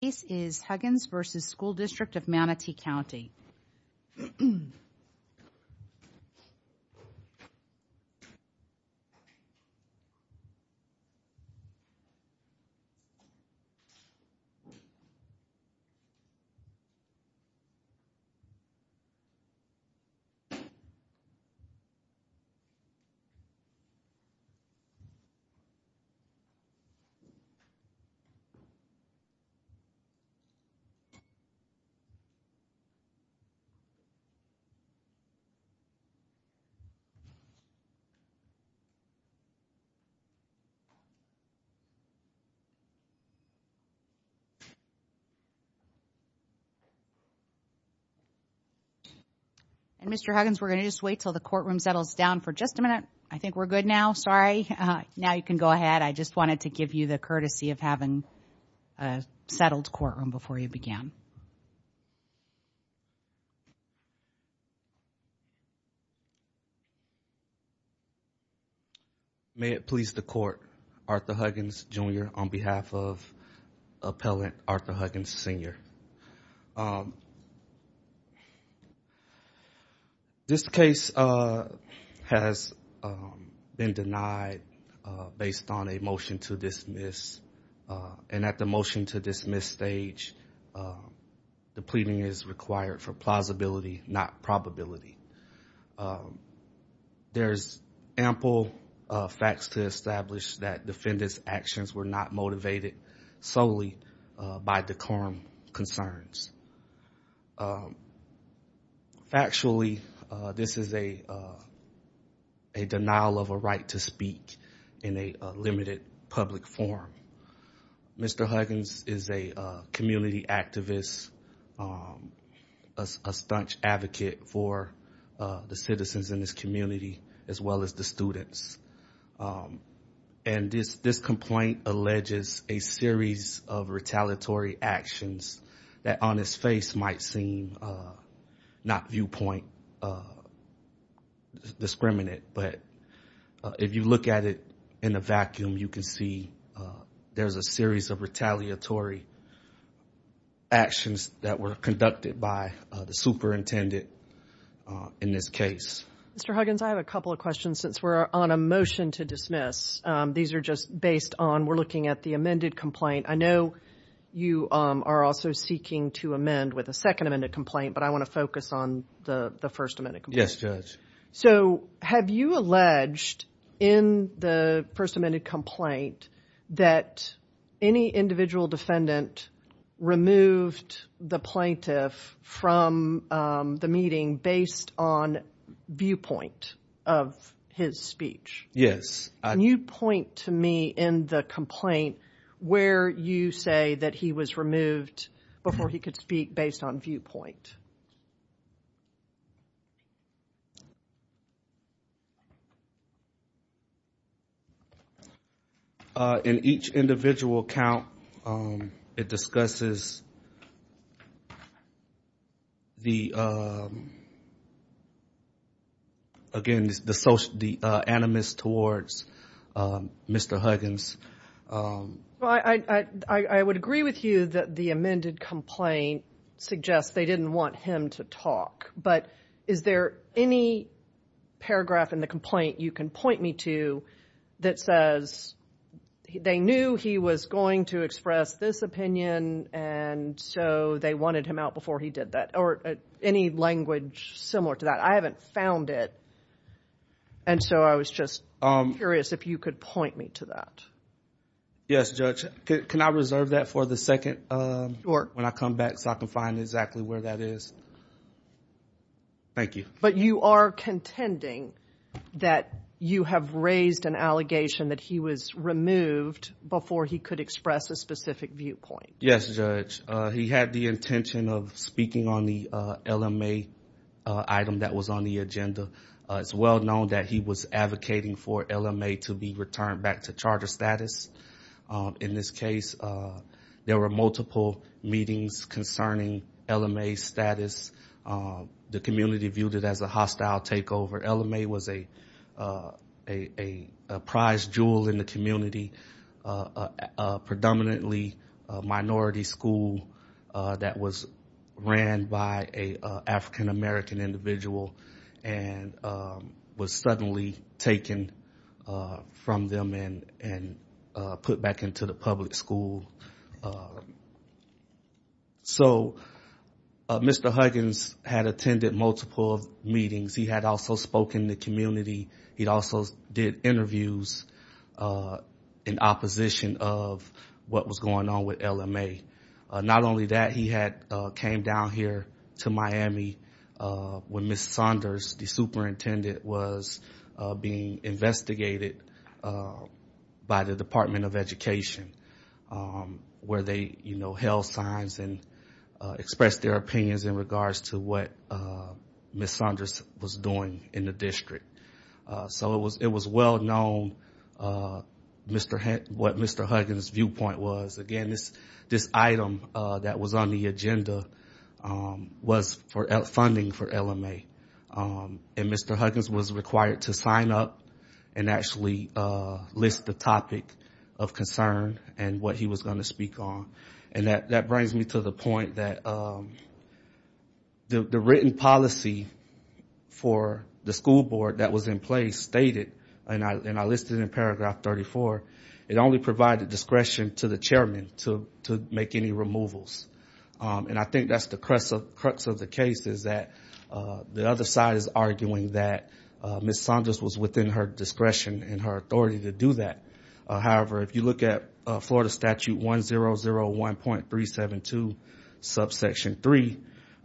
This is Huggins v. School District of Manatee County Mr. Huggins, we're going to just wait until the courtroom settles down for just a minute. I think we're good now, sorry. Now you can go ahead, I just wanted to give you the courtesy of having a settled courtroom before you began. May it please the court, Arthur Huggins Jr. on behalf of Appellant Arthur Huggins Sr. This case has been denied based on a motion to dismiss and at the motion to dismiss stage, the pleading is required for plausibility, not probability. There's ample facts to establish that defendant's actions were not motivated solely by decorum concerns. Factually, this is a denial of a right to speak in a limited public forum. Mr. Huggins is a community activist, a staunch advocate for the citizens in this community as well as the students. And this complaint alleges a series of retaliatory actions that on his face might seem not viewpoint discriminant. But if you look at it in a vacuum, you can see there's a series of retaliatory actions that were conducted by the superintendent in this case. Mr. Huggins, I have a couple of questions since we're on a motion to dismiss. These are just based on, we're looking at the amended complaint. I know you are also seeking to amend with a second amended complaint, but I want to focus on the first amended complaint. Yes, Judge. So have you alleged in the first amended complaint that any individual defendant removed the plaintiff from the meeting based on viewpoint of his speech? Yes. Can you point to me in the complaint where you say that he was removed before he could speak based on viewpoint? In each individual account, it discusses the, again, the animus towards Mr. Huggins. Well, I would agree with you that the amended complaint suggests they didn't want him to talk. But is there any paragraph in the complaint you can point me to that says they knew he was going to express this opinion, and so they wanted him out before he did that, or any language similar to that? I haven't found it. And so I was just curious if you could point me to that. Yes, Judge. Can I reserve that for the second when I come back so I can find exactly where that is? Thank you. But you are contending that you have raised an allegation that he was removed before he could express a specific viewpoint. Yes, Judge. He had the intention of speaking on the LMA item that was on the agenda. It's well known that he was advocating for LMA to be returned back to charter status. In this case, there were multiple meetings concerning LMA's status. The community viewed it as a hostile takeover. LMA was a prize jewel in the community, a predominantly minority school that was ran by an African-American individual and was suddenly taken from them and put back into the public school. So Mr. Huggins had attended multiple meetings. He had also spoken to the community. He also did interviews in opposition of what was going on with LMA. Not only that, he came down here to Miami when Ms. Saunders, the superintendent, was being investigated by the Department of Education where they held signs and expressed their opinions in regards to what Ms. Saunders was doing in the district. So it was well known what Mr. Huggins' viewpoint was. Again, this item that was on the agenda was for funding for LMA. And Mr. Huggins was required to sign up and actually list the topic of concern and what he was going to speak on. And that brings me to the point that the written policy for the school board that was in place stated, and I listed it in paragraph 34, it only provided discretion to the chairman to make any removals. And I think that's the crux of the case is that the other side is arguing that Ms. Saunders was within her discretion and her authority to do that. However, if you look at Florida Statute 1001.372, subsection 3,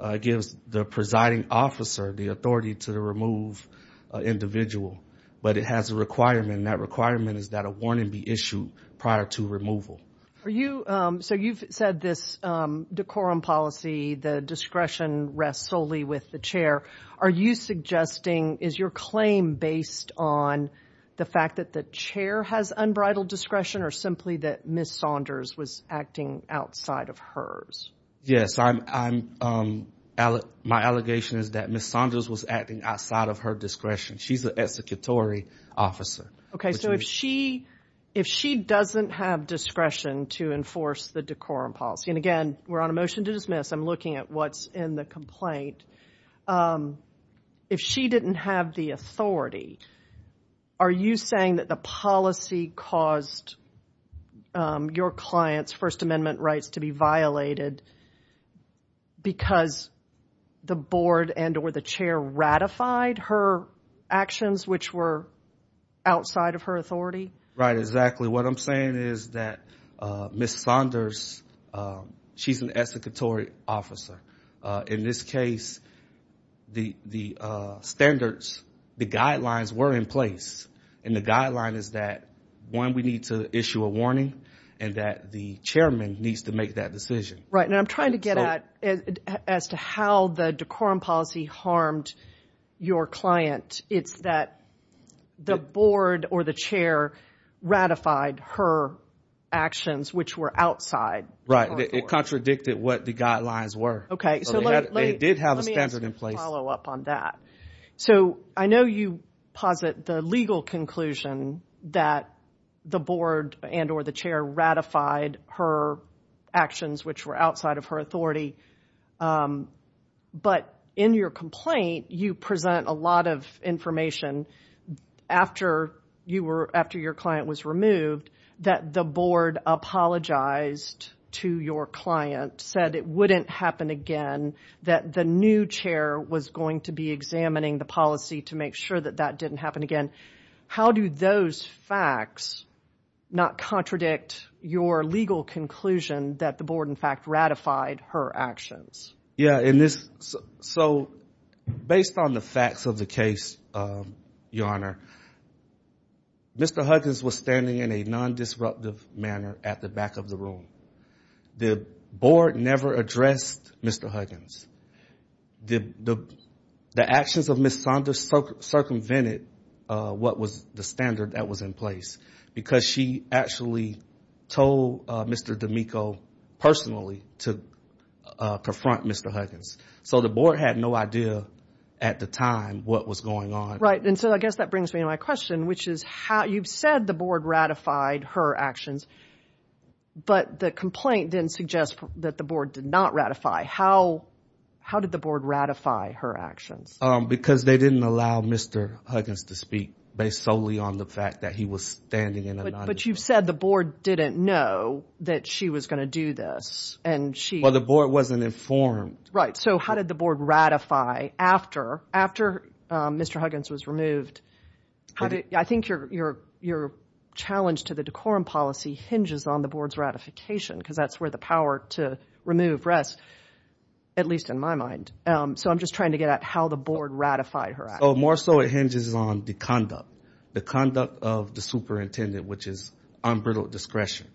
it gives the presiding officer the authority to remove an individual. But it has a requirement, and that requirement is that a warning be issued prior to removal. So you've said this decorum policy, the discretion rests solely with the chair. Are you suggesting, is your claim based on the fact that the chair has unbridled discretion or simply that Ms. Saunders was acting outside of hers? Yes, my allegation is that Ms. Saunders was acting outside of her discretion. She's an executory officer. Okay, so if she doesn't have discretion to enforce the decorum policy, and again, we're on a motion to dismiss, I'm looking at what's in the complaint. If she didn't have the authority, are you saying that the policy caused your client's First Amendment rights to be violated because the board and or the chair ratified her actions, which were outside of her authority? Right, exactly. What I'm saying is that Ms. Saunders, she's an executory officer. In this case, the standards, the guidelines were in place, and the guideline is that, one, we need to issue a warning and that the chairman needs to make that decision. Right, and I'm trying to get at as to how the decorum policy harmed your client. It's that the board or the chair ratified her actions, which were outside of her authority. Right, it contradicted what the guidelines were. Okay, so let me answer the follow-up on that. So I know you posit the legal conclusion that the board and or the chair ratified her actions, which were outside of her authority, but in your complaint, you present a lot of information after your client was removed that the board apologized to your client, said it wouldn't happen again, that the new chair was going to be examining the policy to make sure that that didn't happen again. How do those facts not contradict your legal conclusion that the board, in fact, ratified her actions? Yeah, so based on the facts of the case, Your Honor, Mr. Huggins was standing in a non-disruptive manner at the back of the room. The board never addressed Mr. Huggins. The actions of Ms. Saunders circumvented what was the standard that was in place because she actually told Mr. D'Amico personally to confront Mr. Huggins. So the board had no idea at the time what was going on. Right, and so I guess that brings me to my question, which is you've said the board ratified her actions, but the complaint then suggests that the board did not ratify. How did the board ratify her actions? Because they didn't allow Mr. Huggins to speak based solely on the fact that he was standing in a non-disruptive manner. But you've said the board didn't know that she was going to do this. Well, the board wasn't informed. Right, so how did the board ratify after Mr. Huggins was removed? I think your challenge to the decorum policy hinges on the board's ratification because that's where the power to remove rests, at least in my mind. So I'm just trying to get at how the board ratified her actions. More so it hinges on the conduct, the conduct of the superintendent, which is unbridled discretion.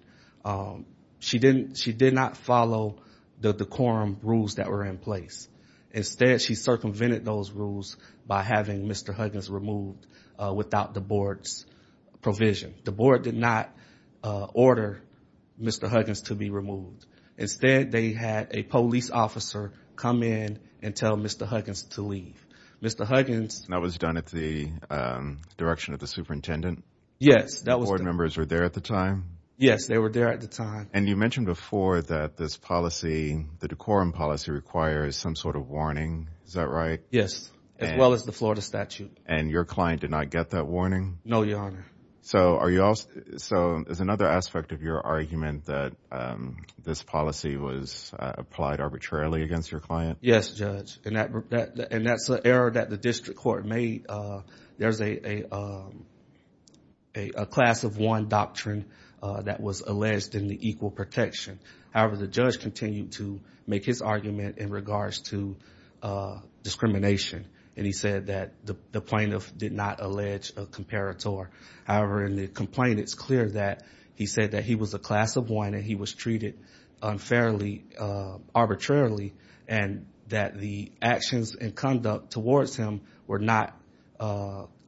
She did not follow the decorum rules that were in place. Instead, she circumvented those rules by having Mr. Huggins removed without the board's provision. The board did not order Mr. Huggins to be removed. Instead, they had a police officer come in and tell Mr. Huggins to leave. Mr. Huggins— That was done at the direction of the superintendent? Yes, that was done. The board members were there at the time? Yes, they were there at the time. And you mentioned before that this policy, the decorum policy, requires some sort of warning. Is that right? Yes, as well as the Florida statute. And your client did not get that warning? No, Your Honor. So is another aspect of your argument that this policy was applied arbitrarily against your client? Yes, Judge, and that's an error that the district court made. There's a class of one doctrine that was alleged in the equal protection. However, the judge continued to make his argument in regards to discrimination, and he said that the plaintiff did not allege a comparator. However, in the complaint, it's clear that he said that he was a class of one and he was treated unfairly, arbitrarily, and that the actions and conduct towards him were not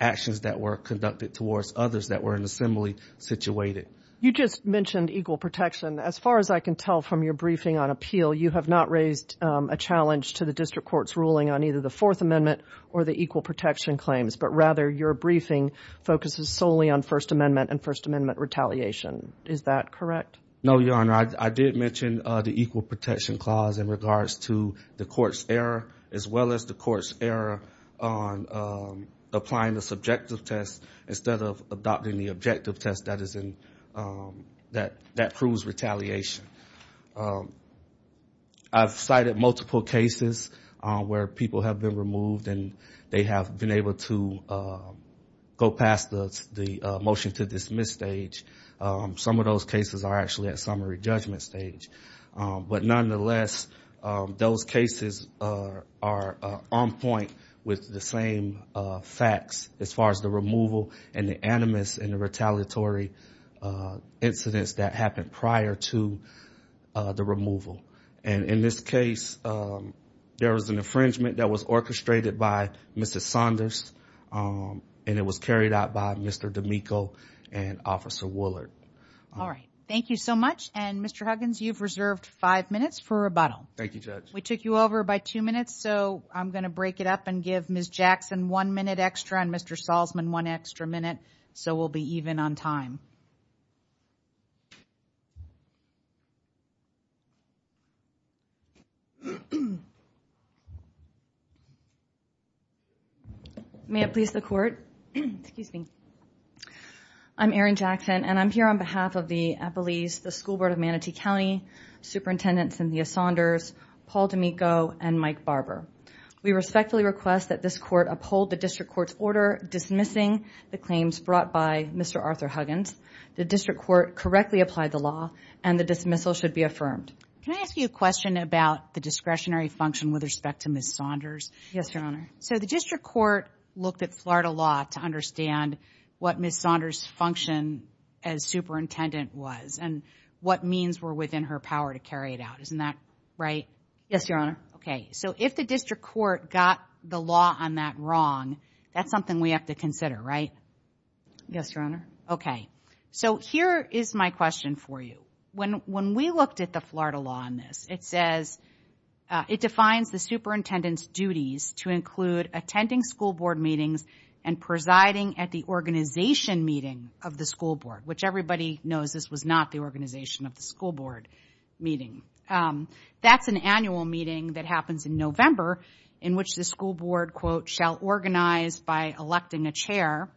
actions that were conducted towards others that were in assembly situated. You just mentioned equal protection. As far as I can tell from your briefing on appeal, you have not raised a challenge to the district court's ruling on either the Fourth Amendment or the equal protection claims, but rather your briefing focuses solely on First Amendment and First Amendment retaliation. Is that correct? No, Your Honor. I did mention the equal protection clause in regards to the court's error, as well as the court's error on applying the subjective test instead of adopting the objective test that proves retaliation. I've cited multiple cases where people have been removed and they have been able to go past the motion to dismiss stage. Some of those cases are actually at summary judgment stage. But nonetheless, those cases are on point with the same facts as far as the removal and the animus and the retaliatory incidents that happened prior to the removal. And in this case, there was an infringement that was orchestrated by Mrs. Saunders and it was carried out by Mr. D'Amico and Officer Woollard. All right. Thank you so much. And, Mr. Huggins, you've reserved five minutes for rebuttal. Thank you, Judge. We took you over by two minutes, so I'm going to break it up and give Ms. Jackson one minute extra and Mr. Salzman one extra minute, so we'll be even on time. May it please the Court. Excuse me. I'm Erin Jackson, and I'm here on behalf of the Eppley's, the School Board of Manatee County, Superintendent Cynthia Saunders, Paul D'Amico, and Mike Barber. We respectfully request that this Court uphold the District Court's order dismissing the claims brought by Mr. Arthur Huggins. The District Court correctly applied the law, and the dismissal should be affirmed. Can I ask you a question about the discretionary function with respect to Ms. Saunders? Yes, Your Honor. So the District Court looked at Florida law to understand what Ms. Saunders' function as superintendent was and what means were within her power to carry it out. Isn't that right? Yes, Your Honor. Okay. So if the District Court got the law on that wrong, that's something we have to consider, right? Yes, Your Honor. Okay. So here is my question for you. When we looked at the Florida law on this, it says it defines the superintendent's duties to include attending school board meetings and presiding at the organization meeting of the school board, which everybody knows this was not the organization of the school board meeting. That's an annual meeting that happens in November in which the school board, quote, shall organize by electing a chair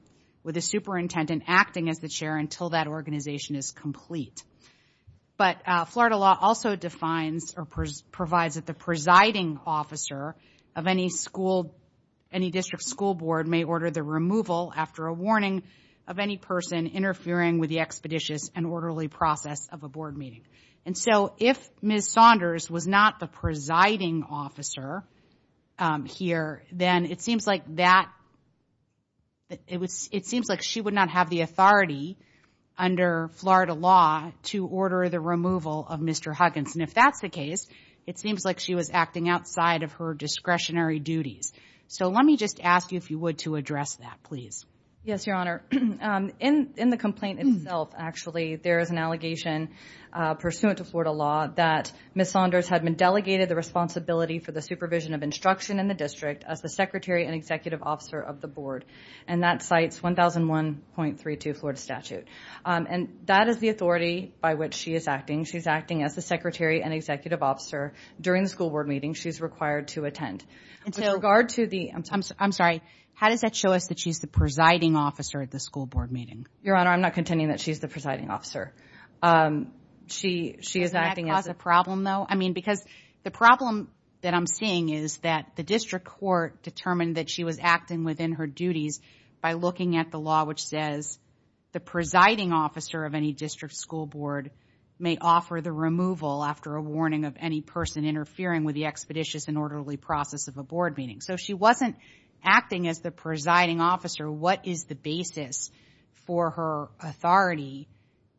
with a superintendent acting as the chair until that organization is complete. But Florida law also defines or provides that the presiding officer of any school, any district school board may order the removal after a warning of any person interfering with the expeditious and orderly process of a board meeting. And so if Ms. Saunders was not the presiding officer here, then it seems like she would not have the authority under Florida law to order the removal of Mr. Huggins. And if that's the case, it seems like she was acting outside of her discretionary duties. So let me just ask you if you would to address that, please. Yes, Your Honor. In the complaint itself, actually, there is an allegation pursuant to Florida law that Ms. Saunders had been delegated the responsibility for the supervision of instruction in the district as the secretary and executive officer of the board. And that cites 1001.32 Florida statute. And that is the authority by which she is acting. She's acting as the secretary and executive officer during the school board meeting she's required to attend. With regard to the – I'm sorry. How does that show us that she's the presiding officer at the school board meeting? Your Honor, I'm not contending that she's the presiding officer. She is acting as – Is that the problem, though? I mean, because the problem that I'm seeing is that the district court determined that she was acting within her duties by looking at the law which says the presiding officer of any district school board may offer the removal after a warning of any person interfering with the expeditious and orderly process of a board meeting. So if she wasn't acting as the presiding officer, what is the basis for her authority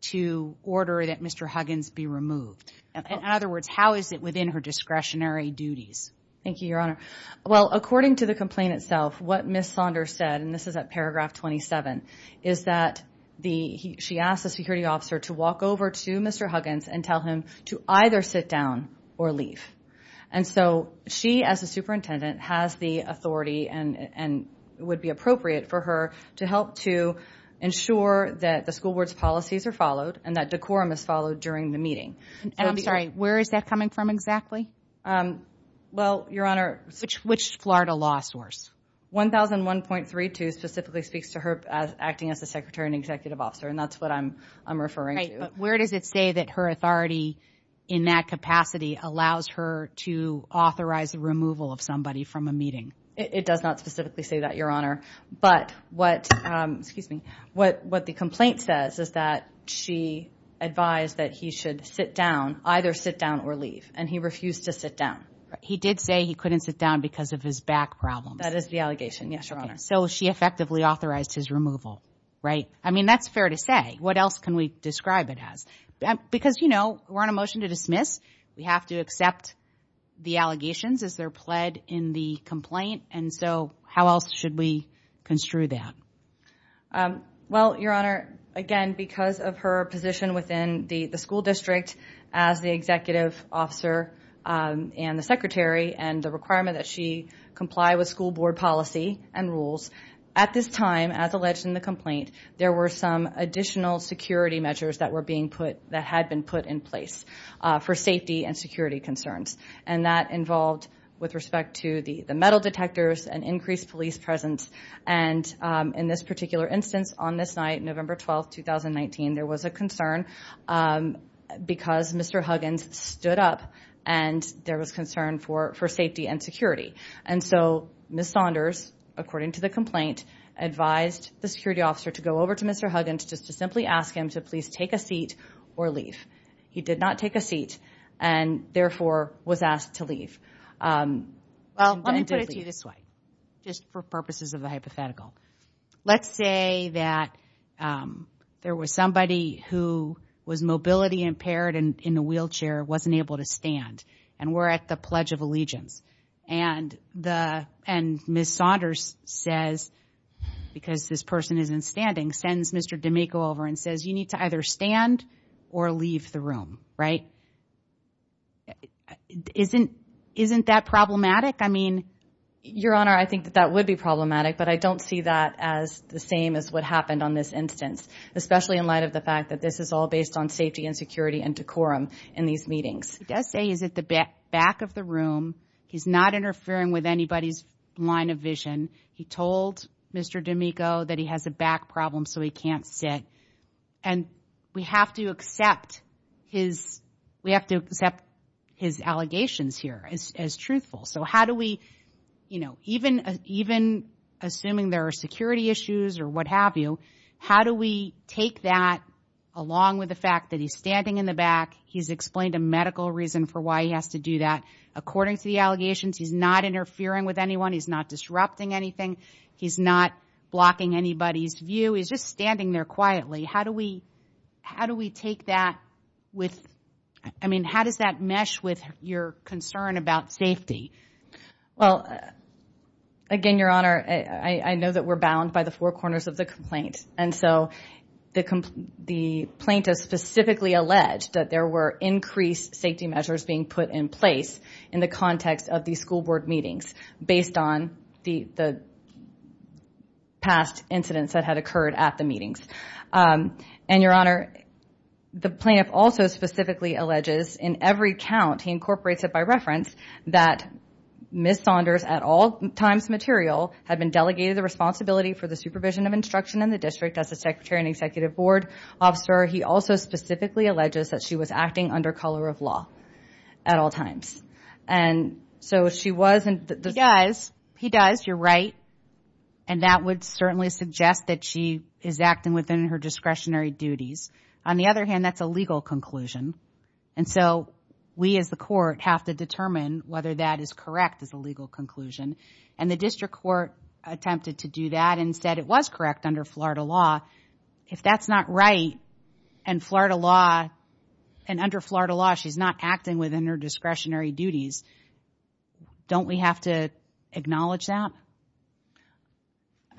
to order that Mr. Huggins be removed? In other words, how is it within her discretionary duties? Thank you, Your Honor. Well, according to the complaint itself, what Ms. Saunders said, and this is at paragraph 27, is that she asked the security officer to walk over to Mr. Huggins and tell him to either sit down or leave. And so she, as the superintendent, has the authority and would be appropriate for her to help to ensure that the school board's policies are followed and that decorum is followed during the meeting. And I'm sorry, where is that coming from exactly? Well, Your Honor – Which Florida law source? 1001.32 specifically speaks to her acting as the secretary and executive officer, and that's what I'm referring to. Right, but where does it say that her authority in that capacity allows her to authorize the removal of somebody from a meeting? It does not specifically say that, Your Honor. But what the complaint says is that she advised that he should sit down, either sit down or leave, and he refused to sit down. He did say he couldn't sit down because of his back problems. That is the allegation, yes, Your Honor. So she effectively authorized his removal, right? I mean, that's fair to say. What else can we describe it as? Because, you know, we're on a motion to dismiss. We have to accept the allegations as they're pled in the complaint. And so how else should we construe that? Well, Your Honor, again, because of her position within the school district as the executive officer and the secretary and the requirement that she comply with school board policy and rules, at this time, as alleged in the complaint, there were some additional security measures that were being put – had been put in place for safety and security concerns. And that involved, with respect to the metal detectors, an increased police presence. And in this particular instance, on this night, November 12, 2019, there was a concern because Mr. Huggins stood up and there was concern for safety and security. And so Ms. Saunders, according to the complaint, advised the security officer to go over to Mr. Huggins just to simply ask him to please take a seat or leave. He did not take a seat and, therefore, was asked to leave. Well, let me put it to you this way, just for purposes of the hypothetical. Let's say that there was somebody who was mobility impaired and in a wheelchair, wasn't able to stand. And we're at the Pledge of Allegiance. And the – and Ms. Saunders says, because this person isn't standing, sends Mr. D'Amico over and says, you need to either stand or leave the room, right? Isn't – isn't that problematic? I mean, Your Honor, I think that that would be problematic, but I don't see that as the same as what happened on this instance, especially in light of the fact that this is all based on safety and security and decorum in these meetings. He does say he's at the back of the room. He's not interfering with anybody's line of vision. He told Mr. D'Amico that he has a back problem so he can't sit. And we have to accept his – we have to accept his allegations here as truthful. So how do we, you know, even assuming there are security issues or what have you, how do we take that along with the fact that he's standing in the back, he's explained a medical reason for why he has to do that. According to the allegations, he's not interfering with anyone. He's not disrupting anything. He's not blocking anybody's view. He's just standing there quietly. How do we – how do we take that with – I mean, how does that mesh with your concern about safety? Well, again, Your Honor, I know that we're bound by the four corners of the complaint. And so the plaintiff specifically alleged that there were increased safety measures being put in place in the context of these school board meetings based on the past incidents that had occurred at the meetings. And, Your Honor, the plaintiff also specifically alleges in every count, he incorporates it by reference, that Ms. Saunders at all times material had been delegated the responsibility for the supervision of instruction in the district as a secretary and executive board officer. He also specifically alleges that she was acting under color of law at all times. And so she was – He does. He does. You're right. And that would certainly suggest that she is acting within her discretionary duties. On the other hand, that's a legal conclusion. And so we as the court have to determine whether that is correct as a legal conclusion. And the district court attempted to do that and said it was correct under Florida law. If that's not right and Florida law – and under Florida law she's not acting within her discretionary duties, don't we have to acknowledge that?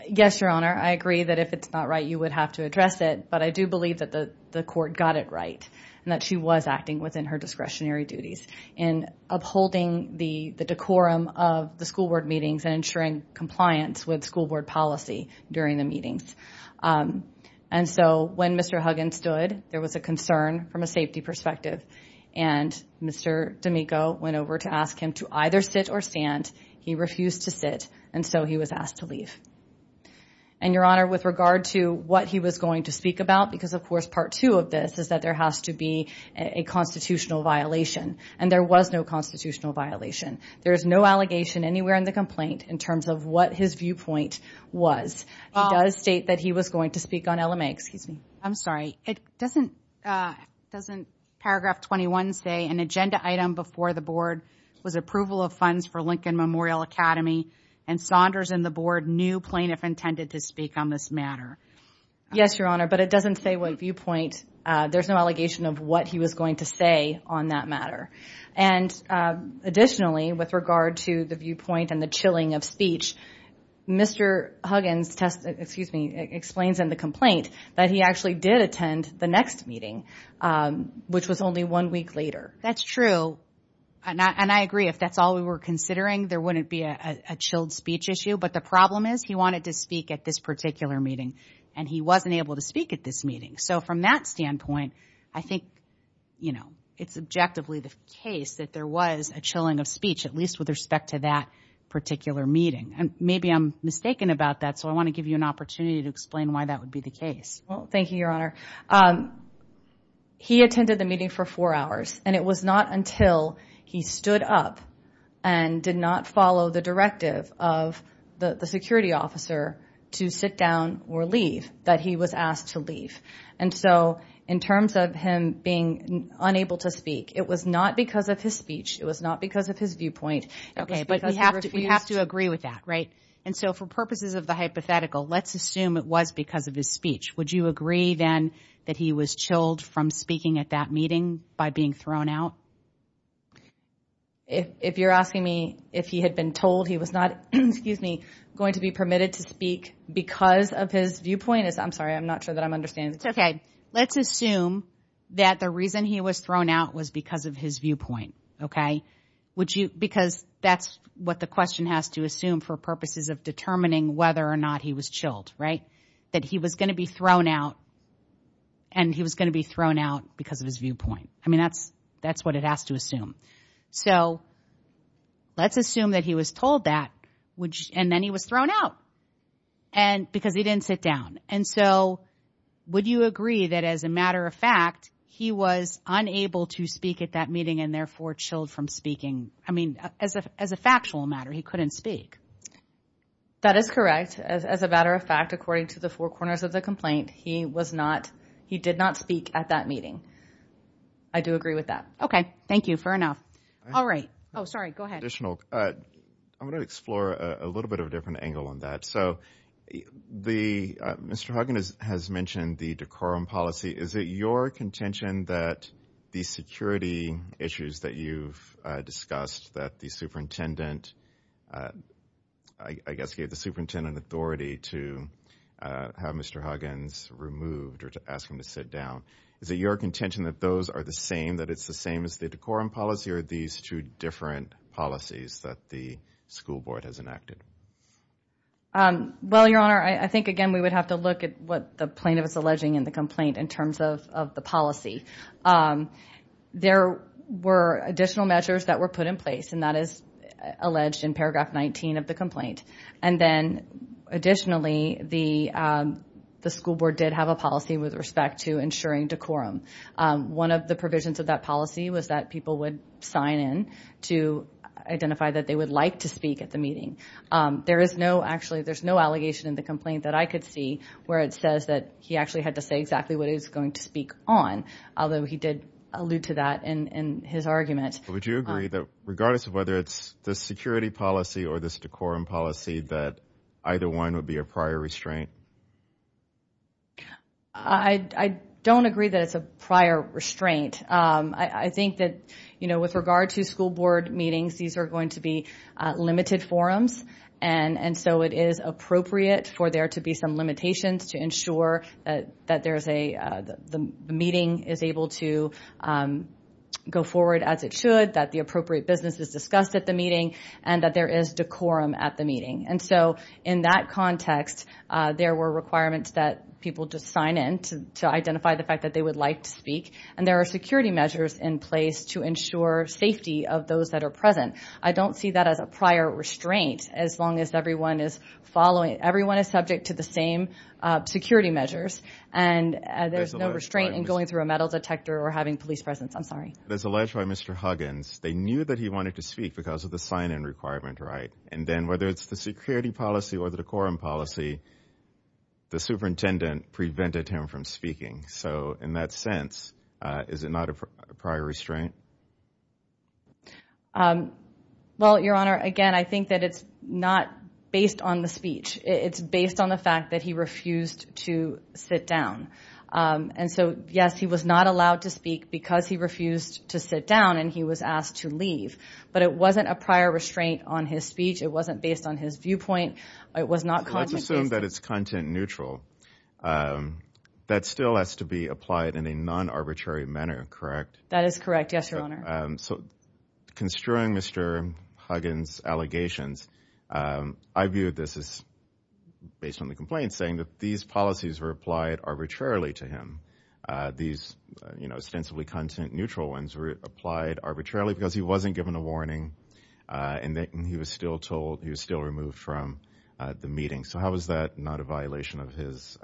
Yes, Your Honor. I agree that if it's not right, you would have to address it. But I do believe that the court got it right and that she was acting within her discretionary duties in upholding the decorum of the school board meetings and ensuring compliance with school board policy during the meetings. And so when Mr. Huggins stood, there was a concern from a safety perspective. And Mr. D'Amico went over to ask him to either sit or stand. He refused to sit, and so he was asked to leave. And, Your Honor, with regard to what he was going to speak about, because of course part two of this is that there has to be a constitutional violation, and there was no constitutional violation. There is no allegation anywhere in the complaint in terms of what his viewpoint was. He does state that he was going to speak on LMA. I'm sorry, doesn't paragraph 21 say, an agenda item before the board was approval of funds for Lincoln Memorial Academy and Saunders and the board knew plaintiff intended to speak on this matter? Yes, Your Honor, but it doesn't say what viewpoint. There's no allegation of what he was going to say on that matter. And additionally, with regard to the viewpoint and the chilling of speech, Mr. Huggins explains in the complaint that he actually did attend the next meeting, which was only one week later. That's true, and I agree. If that's all we were considering, there wouldn't be a chilled speech issue. But the problem is he wanted to speak at this particular meeting, and he wasn't able to speak at this meeting. So from that standpoint, I think, you know, it's objectively the case that there was a chilling of speech, at least with respect to that particular meeting. And maybe I'm mistaken about that, so I want to give you an opportunity to explain why that would be the case. Well, thank you, Your Honor. He attended the meeting for four hours, and it was not until he stood up and did not follow the directive of the security officer to sit down or leave that he was asked to leave. And so in terms of him being unable to speak, it was not because of his speech. It was not because of his viewpoint. Okay, but we have to agree with that, right? And so for purposes of the hypothetical, let's assume it was because of his speech. Would you agree, then, that he was chilled from speaking at that meeting by being thrown out? If you're asking me if he had been told he was not going to be permitted to speak because of his viewpoint, I'm sorry, I'm not sure that I'm understanding. It's okay. Let's assume that the reason he was thrown out was because of his viewpoint, okay? Because that's what the question has to assume for purposes of determining whether or not he was chilled, right? That he was going to be thrown out, and he was going to be thrown out because of his viewpoint. I mean, that's what it has to assume. So let's assume that he was told that, and then he was thrown out because he didn't sit down. And so would you agree that, as a matter of fact, he was unable to speak at that meeting and therefore chilled from speaking? I mean, as a factual matter, he couldn't speak. That is correct. As a matter of fact, according to the four corners of the complaint, he did not speak at that meeting. I do agree with that. Thank you. Fair enough. All right. Oh, sorry. Go ahead. I'm going to explore a little bit of a different angle on that. So Mr. Hogan has mentioned the decorum policy. Is it your contention that the security issues that you've discussed that the superintendent, I guess, gave the superintendent authority to have Mr. Hogan's removed or to ask him to sit down? Is it your contention that those are the same, that it's the same as the decorum policy, or these two different policies that the school board has enacted? Well, Your Honor, I think, again, we would have to look at what the plaintiff is alleging in the complaint in terms of the policy. There were additional measures that were put in place, and that is alleged in paragraph 19 of the complaint. And then, additionally, the school board did have a policy with respect to ensuring decorum. One of the provisions of that policy was that people would sign in to identify that they would like to speak at the meeting. There is no, actually, there's no allegation in the complaint that I could see where it says that he actually had to say exactly what he was going to speak on, although he did allude to that in his argument. Would you agree that, regardless of whether it's the security policy or this decorum policy, that either one would be a prior restraint? I don't agree that it's a prior restraint. I think that, you know, with regard to school board meetings, these are going to be limited forums, and so it is appropriate for there to be some limitations to ensure that the meeting is able to go forward as it should, that the appropriate business is discussed at the meeting, and that there is decorum at the meeting. And so in that context, there were requirements that people just sign in to identify the fact that they would like to speak, and there are security measures in place to ensure safety of those that are present. I don't see that as a prior restraint as long as everyone is following, everyone is subject to the same security measures, and there's no restraint in going through a metal detector or having police presence. I'm sorry. As alleged by Mr. Huggins, they knew that he wanted to speak because of the sign-in requirement, right? And then whether it's the security policy or the decorum policy, the superintendent prevented him from speaking. So in that sense, is it not a prior restraint? Well, Your Honor, again, I think that it's not based on the speech. It's based on the fact that he refused to sit down. And so, yes, he was not allowed to speak because he refused to sit down, and he was asked to leave. But it wasn't a prior restraint on his speech. It wasn't based on his viewpoint. It was not content-based. Let's assume that it's content-neutral. That still has to be applied in a non-arbitrary manner, correct? That is correct. Yes, Your Honor. So construing Mr. Huggins' allegations, I view this as, based on the complaints, saying that these policies were applied arbitrarily to him. These ostensibly content-neutral ones were applied arbitrarily because he wasn't given a warning and he was still removed from the meeting. So how is that not a violation of his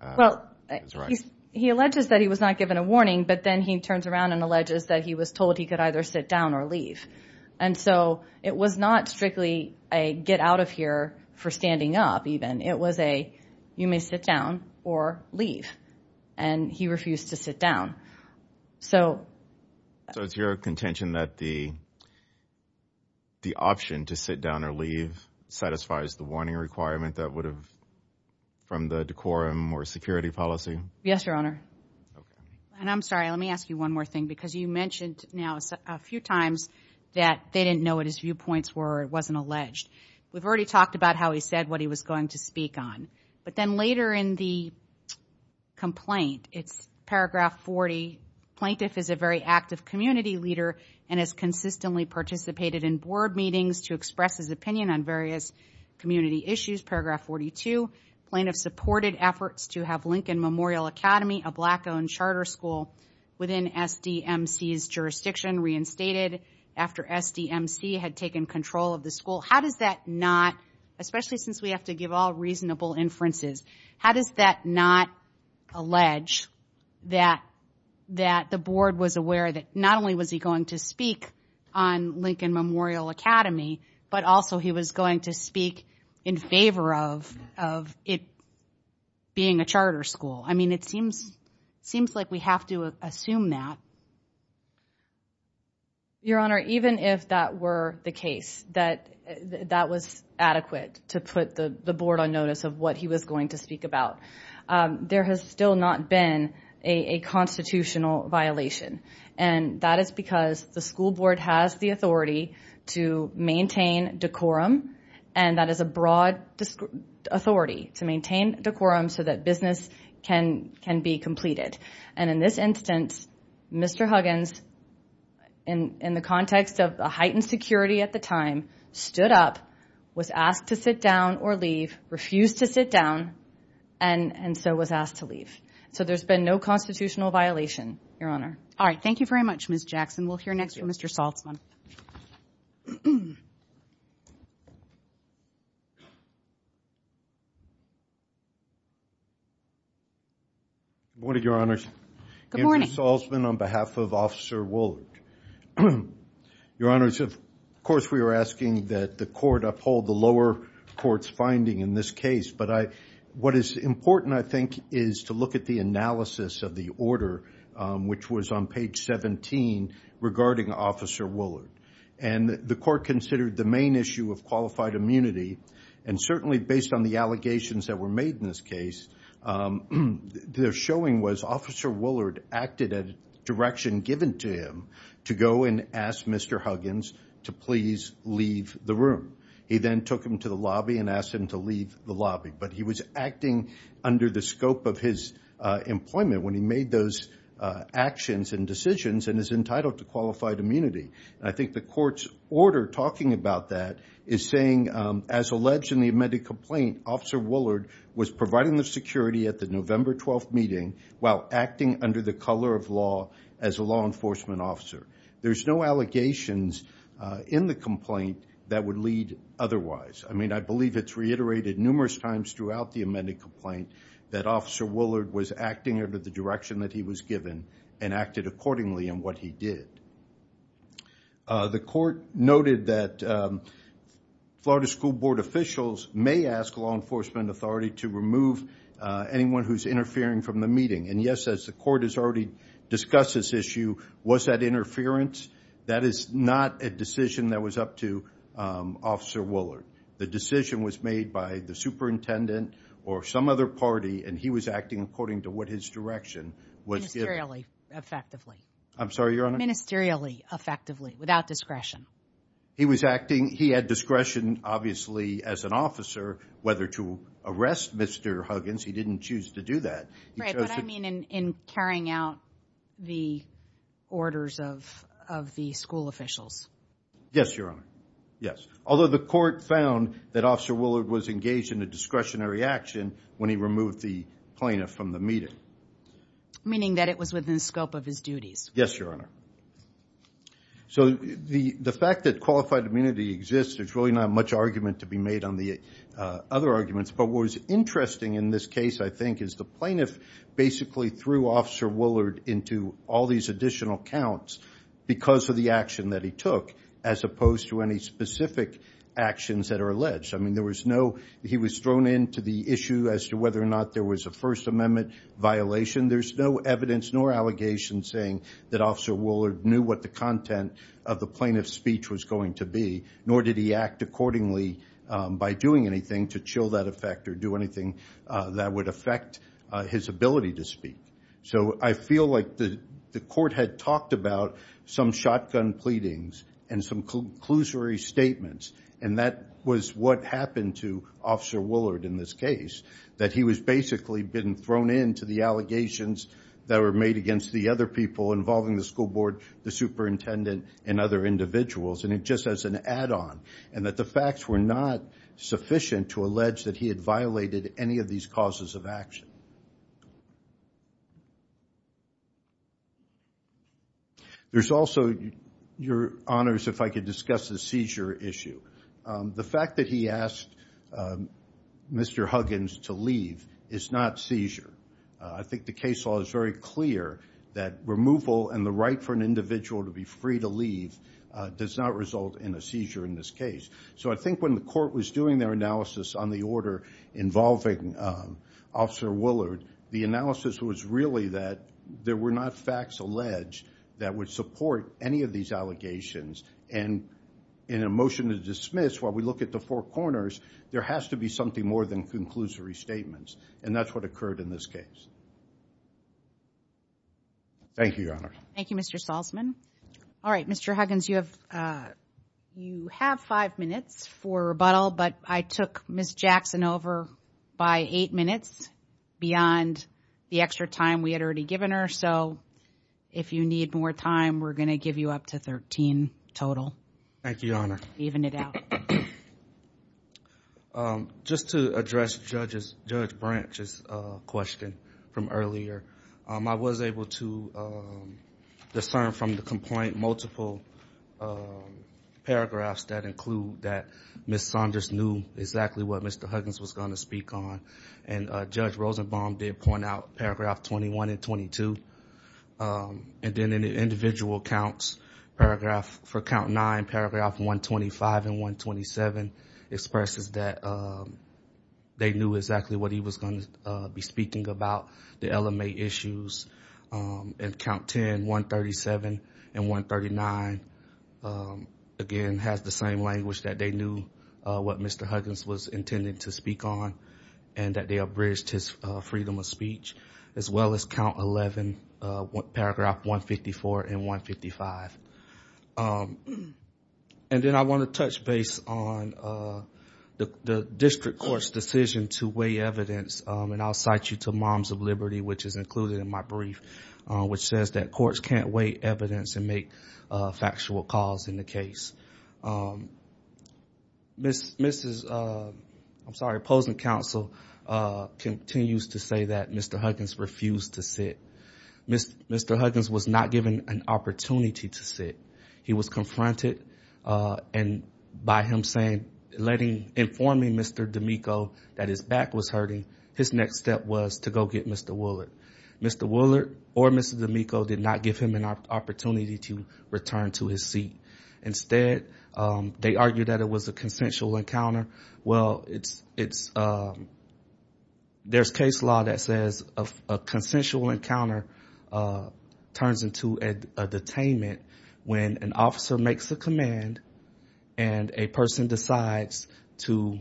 rights? He alleges that he was not given a warning, but then he turns around and alleges that he was told he could either sit down or leave. And so it was not strictly a get out of here for standing up, even. It was a you may sit down or leave, and he refused to sit down. So it's your contention that the option to sit down or leave satisfies the warning requirement that would have, from the decorum or security policy? Yes, Your Honor. And I'm sorry, let me ask you one more thing, because you mentioned now a few times that they didn't know what his viewpoints were or it wasn't alleged. We've already talked about how he said what he was going to speak on. But then later in the complaint, it's paragraph 40, Plaintiff is a very active community leader and has consistently participated in board meetings to express his opinion on various community issues. Paragraph 42, Plaintiff supported efforts to have Lincoln Memorial Academy, a black-owned charter school within SDMC's jurisdiction, reinstated after SDMC had taken control of the school. How does that not, especially since we have to give all reasonable inferences, how does that not allege that the board was aware that not only was he going to speak on Lincoln Memorial Academy, but also he was going to speak in favor of it being a charter school? I mean, it seems like we have to assume that. Your Honor, even if that were the case, that that was adequate to put the board on notice of what he was going to speak about, there has still not been a constitutional violation. And that is because the school board has the authority to maintain decorum, and that is a broad authority to maintain decorum so that business can be completed. And in this instance, Mr. Huggins, in the context of the heightened security at the time, stood up, was asked to sit down or leave, refused to sit down, and so was asked to leave. So there's been no constitutional violation, Your Honor. All right. Thank you very much, Ms. Jackson. We'll hear next from Mr. Salzman. Good morning, Your Honors. Good morning. Andrew Salzman on behalf of Officer Woolard. Your Honors, of course we were asking that the court uphold the lower court's finding in this case, but what is important, I think, is to look at the analysis of the order, which was on page 17, regarding Officer Woolard. And the court considered the main issue of qualified immunity, and certainly based on the allegations that were made in this case, their showing was Officer Woolard acted at a direction given to him to go and ask Mr. Huggins to please leave the room. He then took him to the lobby and asked him to leave the lobby. But he was acting under the scope of his employment when he made those actions and decisions and is entitled to qualified immunity. And I think the court's order talking about that is saying, as alleged in the amended complaint, Officer Woolard was providing the security at the November 12th meeting while acting under the color of law as a law enforcement officer. There's no allegations in the complaint that would lead otherwise. I mean, I believe it's reiterated numerous times throughout the amended complaint that Officer Woolard was acting under the direction that he was given and acted accordingly in what he did. The court noted that Florida School Board officials may ask law enforcement authority to remove anyone who's interfering from the meeting. And, yes, as the court has already discussed this issue, was that interference? That is not a decision that was up to Officer Woolard. The decision was made by the superintendent or some other party, and he was acting according to what his direction was given. Ministerially, effectively. I'm sorry, Your Honor? Ministerially, effectively, without discretion. He was acting. He had discretion, obviously, as an officer whether to arrest Mr. Huggins. He didn't choose to do that. Right, but I mean in carrying out the orders of the school officials. Yes, Your Honor. Yes. Although the court found that Officer Woolard was engaged in a discretionary action when he removed the plaintiff from the meeting. Meaning that it was within the scope of his duties. Yes, Your Honor. So the fact that qualified immunity exists, there's really not much argument to be made on the other arguments. But what was interesting in this case, I think, is the plaintiff basically threw Officer Woolard into all these additional counts because of the action that he took. As opposed to any specific actions that are alleged. I mean there was no, he was thrown into the issue as to whether or not there was a First Amendment violation. There's no evidence nor allegations saying that Officer Woolard knew what the content of the plaintiff's speech was going to be. Nor did he act accordingly by doing anything to chill that effect or do anything that would affect his ability to speak. So I feel like the court had talked about some shotgun pleadings and some conclusory statements. And that was what happened to Officer Woolard in this case. That he was basically been thrown into the allegations that were made against the other people involving the school board, the superintendent, and other individuals. And just as an add-on. And that the facts were not sufficient to allege that he had violated any of these causes of action. There's also, Your Honors, if I could discuss the seizure issue. The fact that he asked Mr. Huggins to leave is not seizure. I think the case law is very clear that removal and the right for an individual to be free to leave does not result in a seizure in this case. So I think when the court was doing their analysis on the order involving Officer Woolard, the analysis was really that there were not facts alleged that would support any of these allegations. And in a motion to dismiss, while we look at the four corners, there has to be something more than conclusory statements. And that's what occurred in this case. Thank you, Your Honor. Thank you, Mr. Salzman. All right, Mr. Huggins, you have five minutes for rebuttal. But I took Ms. Jackson over by eight minutes beyond the extra time we had already given her. So if you need more time, we're going to give you up to 13 total. Thank you, Your Honor. Even it out. Just to address Judge Branch's question from earlier, I was able to discern from the complaint multiple paragraphs that include that Ms. Saunders knew exactly what Mr. Huggins was going to speak on. And Judge Rosenbaum did point out paragraph 21 and 22. And then in the individual counts, paragraph for count nine, paragraph 125 and 127, expresses that they knew exactly what he was going to be speaking about, the LMA issues. And count 10, 137 and 139, again, has the same language, that they knew what Mr. Huggins was intending to speak on and that they abridged his freedom of speech, as well as count 11, paragraph 154 and 155. And then I want to touch base on the district court's decision to weigh evidence, and I'll cite you to Moms of Liberty, which is included in my brief, which says that courts can't weigh evidence and make factual calls in the case. Opposing counsel continues to say that Mr. Huggins refused to sit. Mr. Huggins was not given an opportunity to sit. He was confronted, and by him informing Mr. D'Amico that his back was hurting, his next step was to go get Mr. Woollard. Mr. Woollard or Mr. D'Amico did not give him an opportunity to return to his seat. Instead, they argued that it was a consensual encounter. Well, there's case law that says a consensual encounter turns into a detainment when an officer makes a command and a person decides to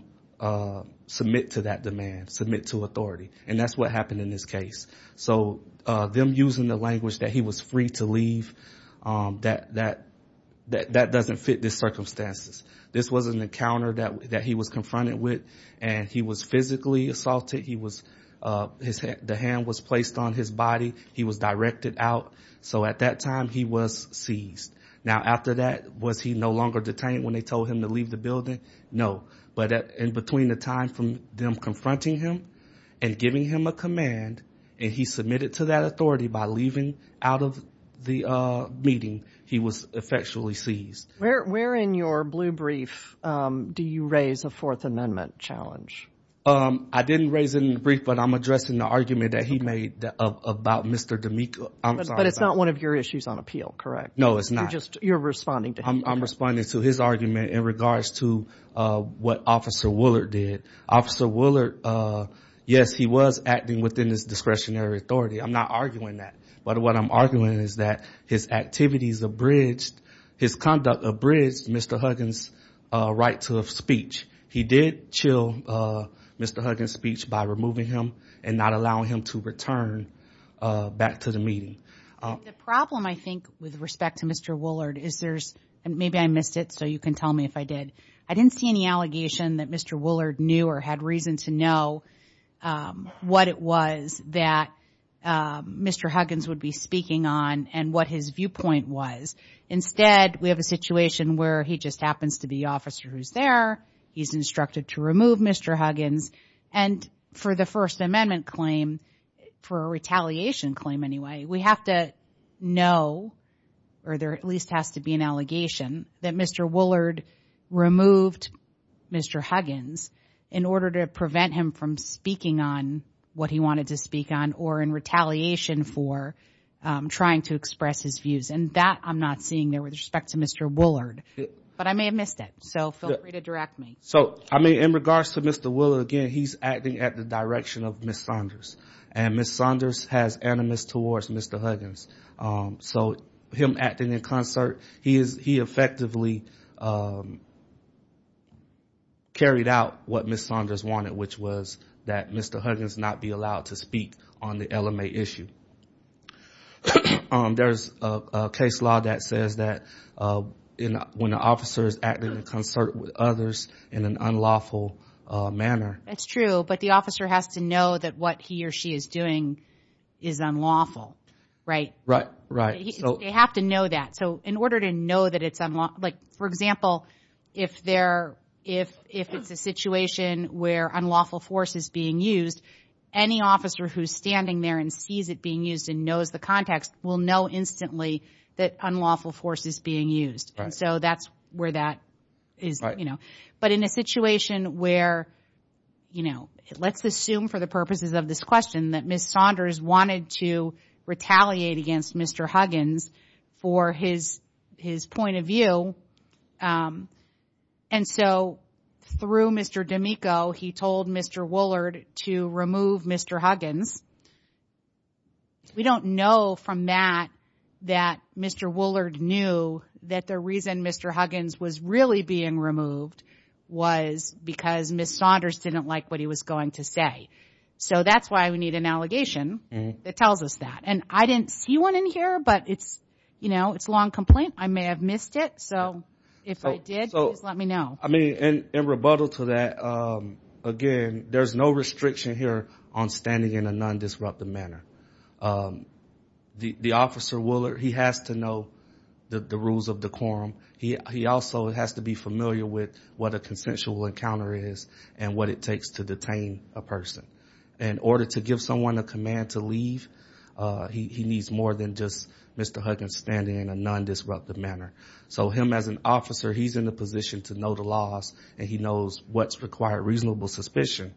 submit to that demand, submit to authority, and that's what happened in this case. So them using the language that he was free to leave, that doesn't fit the circumstances. This was an encounter that he was confronted with, and he was physically assaulted. The hand was placed on his body. He was directed out. So at that time, he was seized. Now, after that, was he no longer detained when they told him to leave the building? No, but in between the time from them confronting him and giving him a command, and he submitted to that authority by leaving out of the meeting, he was effectually seized. Where in your blue brief do you raise a Fourth Amendment challenge? I didn't raise it in the brief, but I'm addressing the argument that he made about Mr. D'Amico. But it's not one of your issues on appeal, correct? No, it's not. You're responding to him. I'm responding to his argument in regards to what Officer Woullard did. Officer Woullard, yes, he was acting within his discretionary authority. I'm not arguing that. But what I'm arguing is that his activities abridged, his conduct abridged Mr. Huggins' right to speech. He did chill Mr. Huggins' speech by removing him and not allowing him to return back to the meeting. The problem, I think, with respect to Mr. Woullard is there's – maybe I missed it, so you can tell me if I did. I didn't see any allegation that Mr. Woullard knew or had reason to know what it was that Mr. Huggins would be speaking on and what his viewpoint was. Instead, we have a situation where he just happens to be the officer who's there. He's instructed to remove Mr. Huggins. And for the First Amendment claim, for a retaliation claim anyway, we have to know, or there at least has to be an allegation, that Mr. Woullard removed Mr. Huggins in order to prevent him from speaking on what he wanted to speak on or in retaliation for trying to express his views. And that I'm not seeing there with respect to Mr. Woullard. But I may have missed it, so feel free to direct me. So, I mean, in regards to Mr. Woullard, again, he's acting at the direction of Ms. Saunders. And Ms. Saunders has animus towards Mr. Huggins. So him acting in concert, he effectively carried out what Ms. Saunders wanted, which was that Mr. Huggins not be allowed to speak on the LMA issue. There's a case law that says that when an officer is acting in concert with others in an unlawful manner. That's true, but the officer has to know that what he or she is doing is unlawful, right? Right, right. They have to know that. So in order to know that it's unlawful, like, for example, if it's a situation where unlawful force is being used, any officer who's standing there and sees it being used and knows the context will know instantly that unlawful force is being used. And so that's where that is, you know. But in a situation where, you know, let's assume for the purposes of this question that Ms. Saunders wanted to retaliate against Mr. Huggins for his point of view. And so through Mr. D'Amico, he told Mr. Woolard to remove Mr. Huggins. We don't know from that that Mr. Woolard knew that the reason Mr. Huggins was really being removed was because Ms. Saunders didn't like what he was going to say. So that's why we need an allegation that tells us that. And I didn't see one in here, but it's, you know, it's a long complaint. I may have missed it, so if I did, please let me know. I mean, in rebuttal to that, again, there's no restriction here on standing in a non-disruptive manner. The officer, Woolard, he has to know the rules of the quorum. He also has to be familiar with what a consensual encounter is and what it takes to detain a person. In order to give someone a command to leave, he needs more than just Mr. Huggins standing in a non-disruptive manner. So him as an officer, he's in a position to know the laws, and he knows what's required reasonable suspicion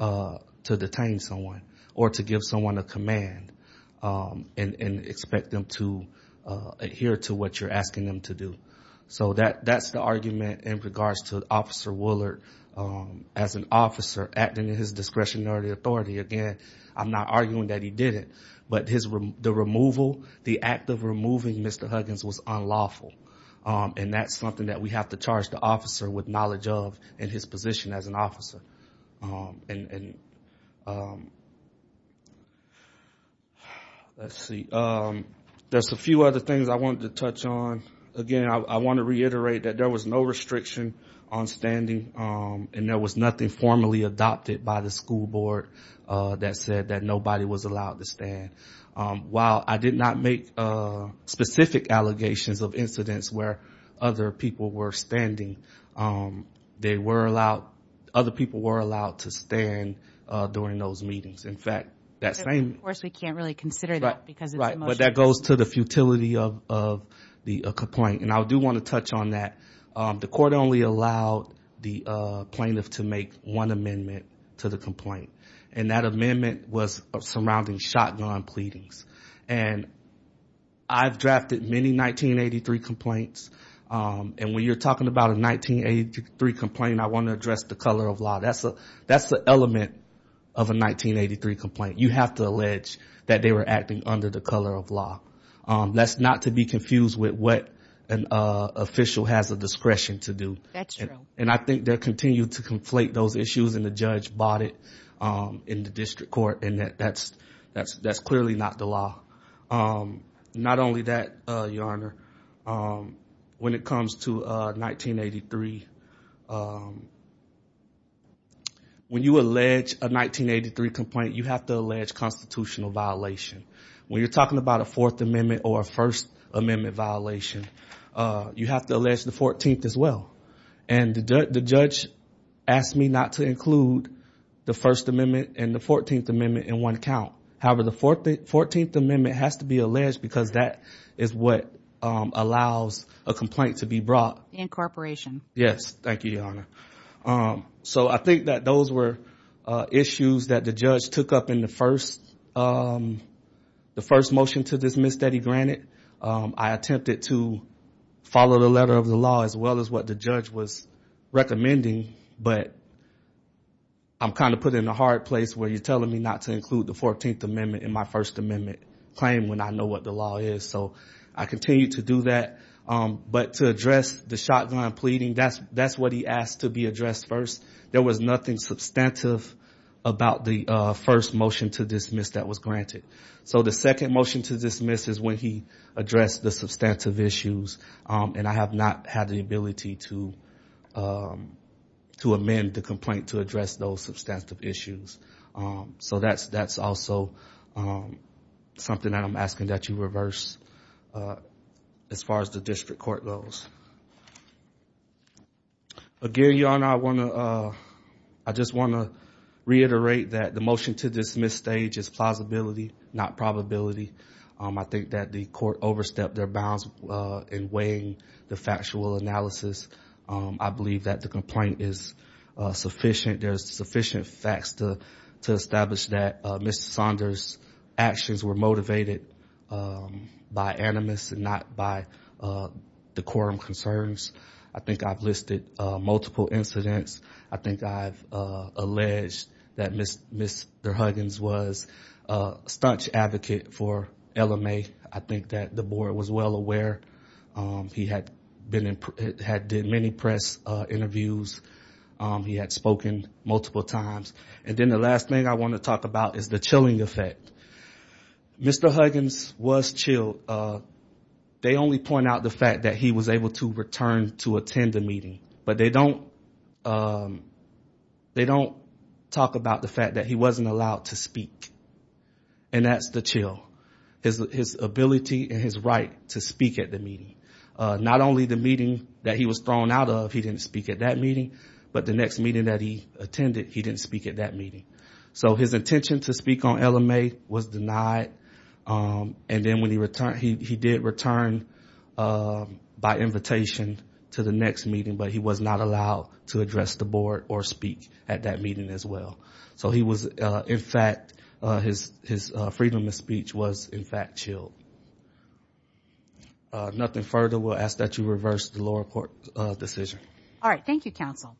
to detain someone or to give someone a command and expect them to adhere to what you're asking them to do. So that's the argument in regards to Officer Woolard as an officer acting in his discretionary authority. Again, I'm not arguing that he didn't, but the removal, the act of removing Mr. Huggins was unlawful, and that's something that we have to charge the officer with knowledge of in his position as an officer. Let's see. There's a few other things I wanted to touch on. Again, I want to reiterate that there was no restriction on standing, and there was nothing formally adopted by the school board that said that nobody was allowed to stand. While I did not make specific allegations of incidents where other people were standing, they were allowed, other people were allowed to stand during those meetings. In fact, that same- Of course, we can't really consider that because it's a motion. Right, but that goes to the futility of the complaint, and I do want to touch on that. The court only allowed the plaintiff to make one amendment to the complaint, and that amendment was surrounding shotgun pleadings, and I've drafted many 1983 complaints, and when you're talking about a 1983 complaint, I want to address the color of law. That's the element of a 1983 complaint. You have to allege that they were acting under the color of law. That's not to be confused with what an official has a discretion to do. That's true. And I think they'll continue to conflate those issues, and the judge bought it in the district court, and that's clearly not the law. Not only that, Your Honor, when it comes to 1983, when you allege a 1983 complaint, you have to allege constitutional violation. When you're talking about a Fourth Amendment or a First Amendment violation, you have to allege the 14th as well, and the judge asked me not to include the First Amendment and the 14th Amendment in one count. However, the 14th Amendment has to be alleged because that is what allows a complaint to be brought. Incorporation. Yes. Thank you, Your Honor. So I think that those were issues that the judge took up in the first motion to dismiss Teddy Granite. I attempted to follow the letter of the law as well as what the judge was recommending, but I'm kind of put in a hard place where you're telling me not to include the 14th Amendment in my First Amendment claim when I know what the law is, so I continue to do that. But to address the shotgun pleading, that's what he asked to be addressed first. There was nothing substantive about the first motion to dismiss that was granted. So the second motion to dismiss is when he addressed the substantive issues, and I have not had the ability to amend the complaint to address those substantive issues. So that's also something that I'm asking that you reverse as far as the district court goes. Again, Your Honor, I just want to reiterate that the motion to dismiss stage is plausibility, not probability. I think that the court overstepped their bounds in weighing the factual analysis. I believe that the complaint is sufficient. There's sufficient facts to establish that Mr. Saunders' actions were motivated by animus and not by the quorum concerns. I think I've listed multiple incidents. I think I've alleged that Mr. Huggins was a staunch advocate for LMA. I think that the board was well aware. He had been in many press interviews. He had spoken multiple times. And then the last thing I want to talk about is the chilling effect. Mr. Huggins was chilled. They only point out the fact that he was able to return to attend the meeting, but they don't talk about the fact that he wasn't allowed to speak, and that's the chill. His ability and his right to speak at the meeting. Not only the meeting that he was thrown out of, he didn't speak at that meeting, but the next meeting that he attended, he didn't speak at that meeting. So his intention to speak on LMA was denied, and then he did return by invitation to the next meeting, but he was not allowed to address the board or speak at that meeting as well. So he was, in fact, his freedom of speech was, in fact, chilled. Nothing further. We'll ask that you reverse the lower court decision. All right. Thank you, counsel.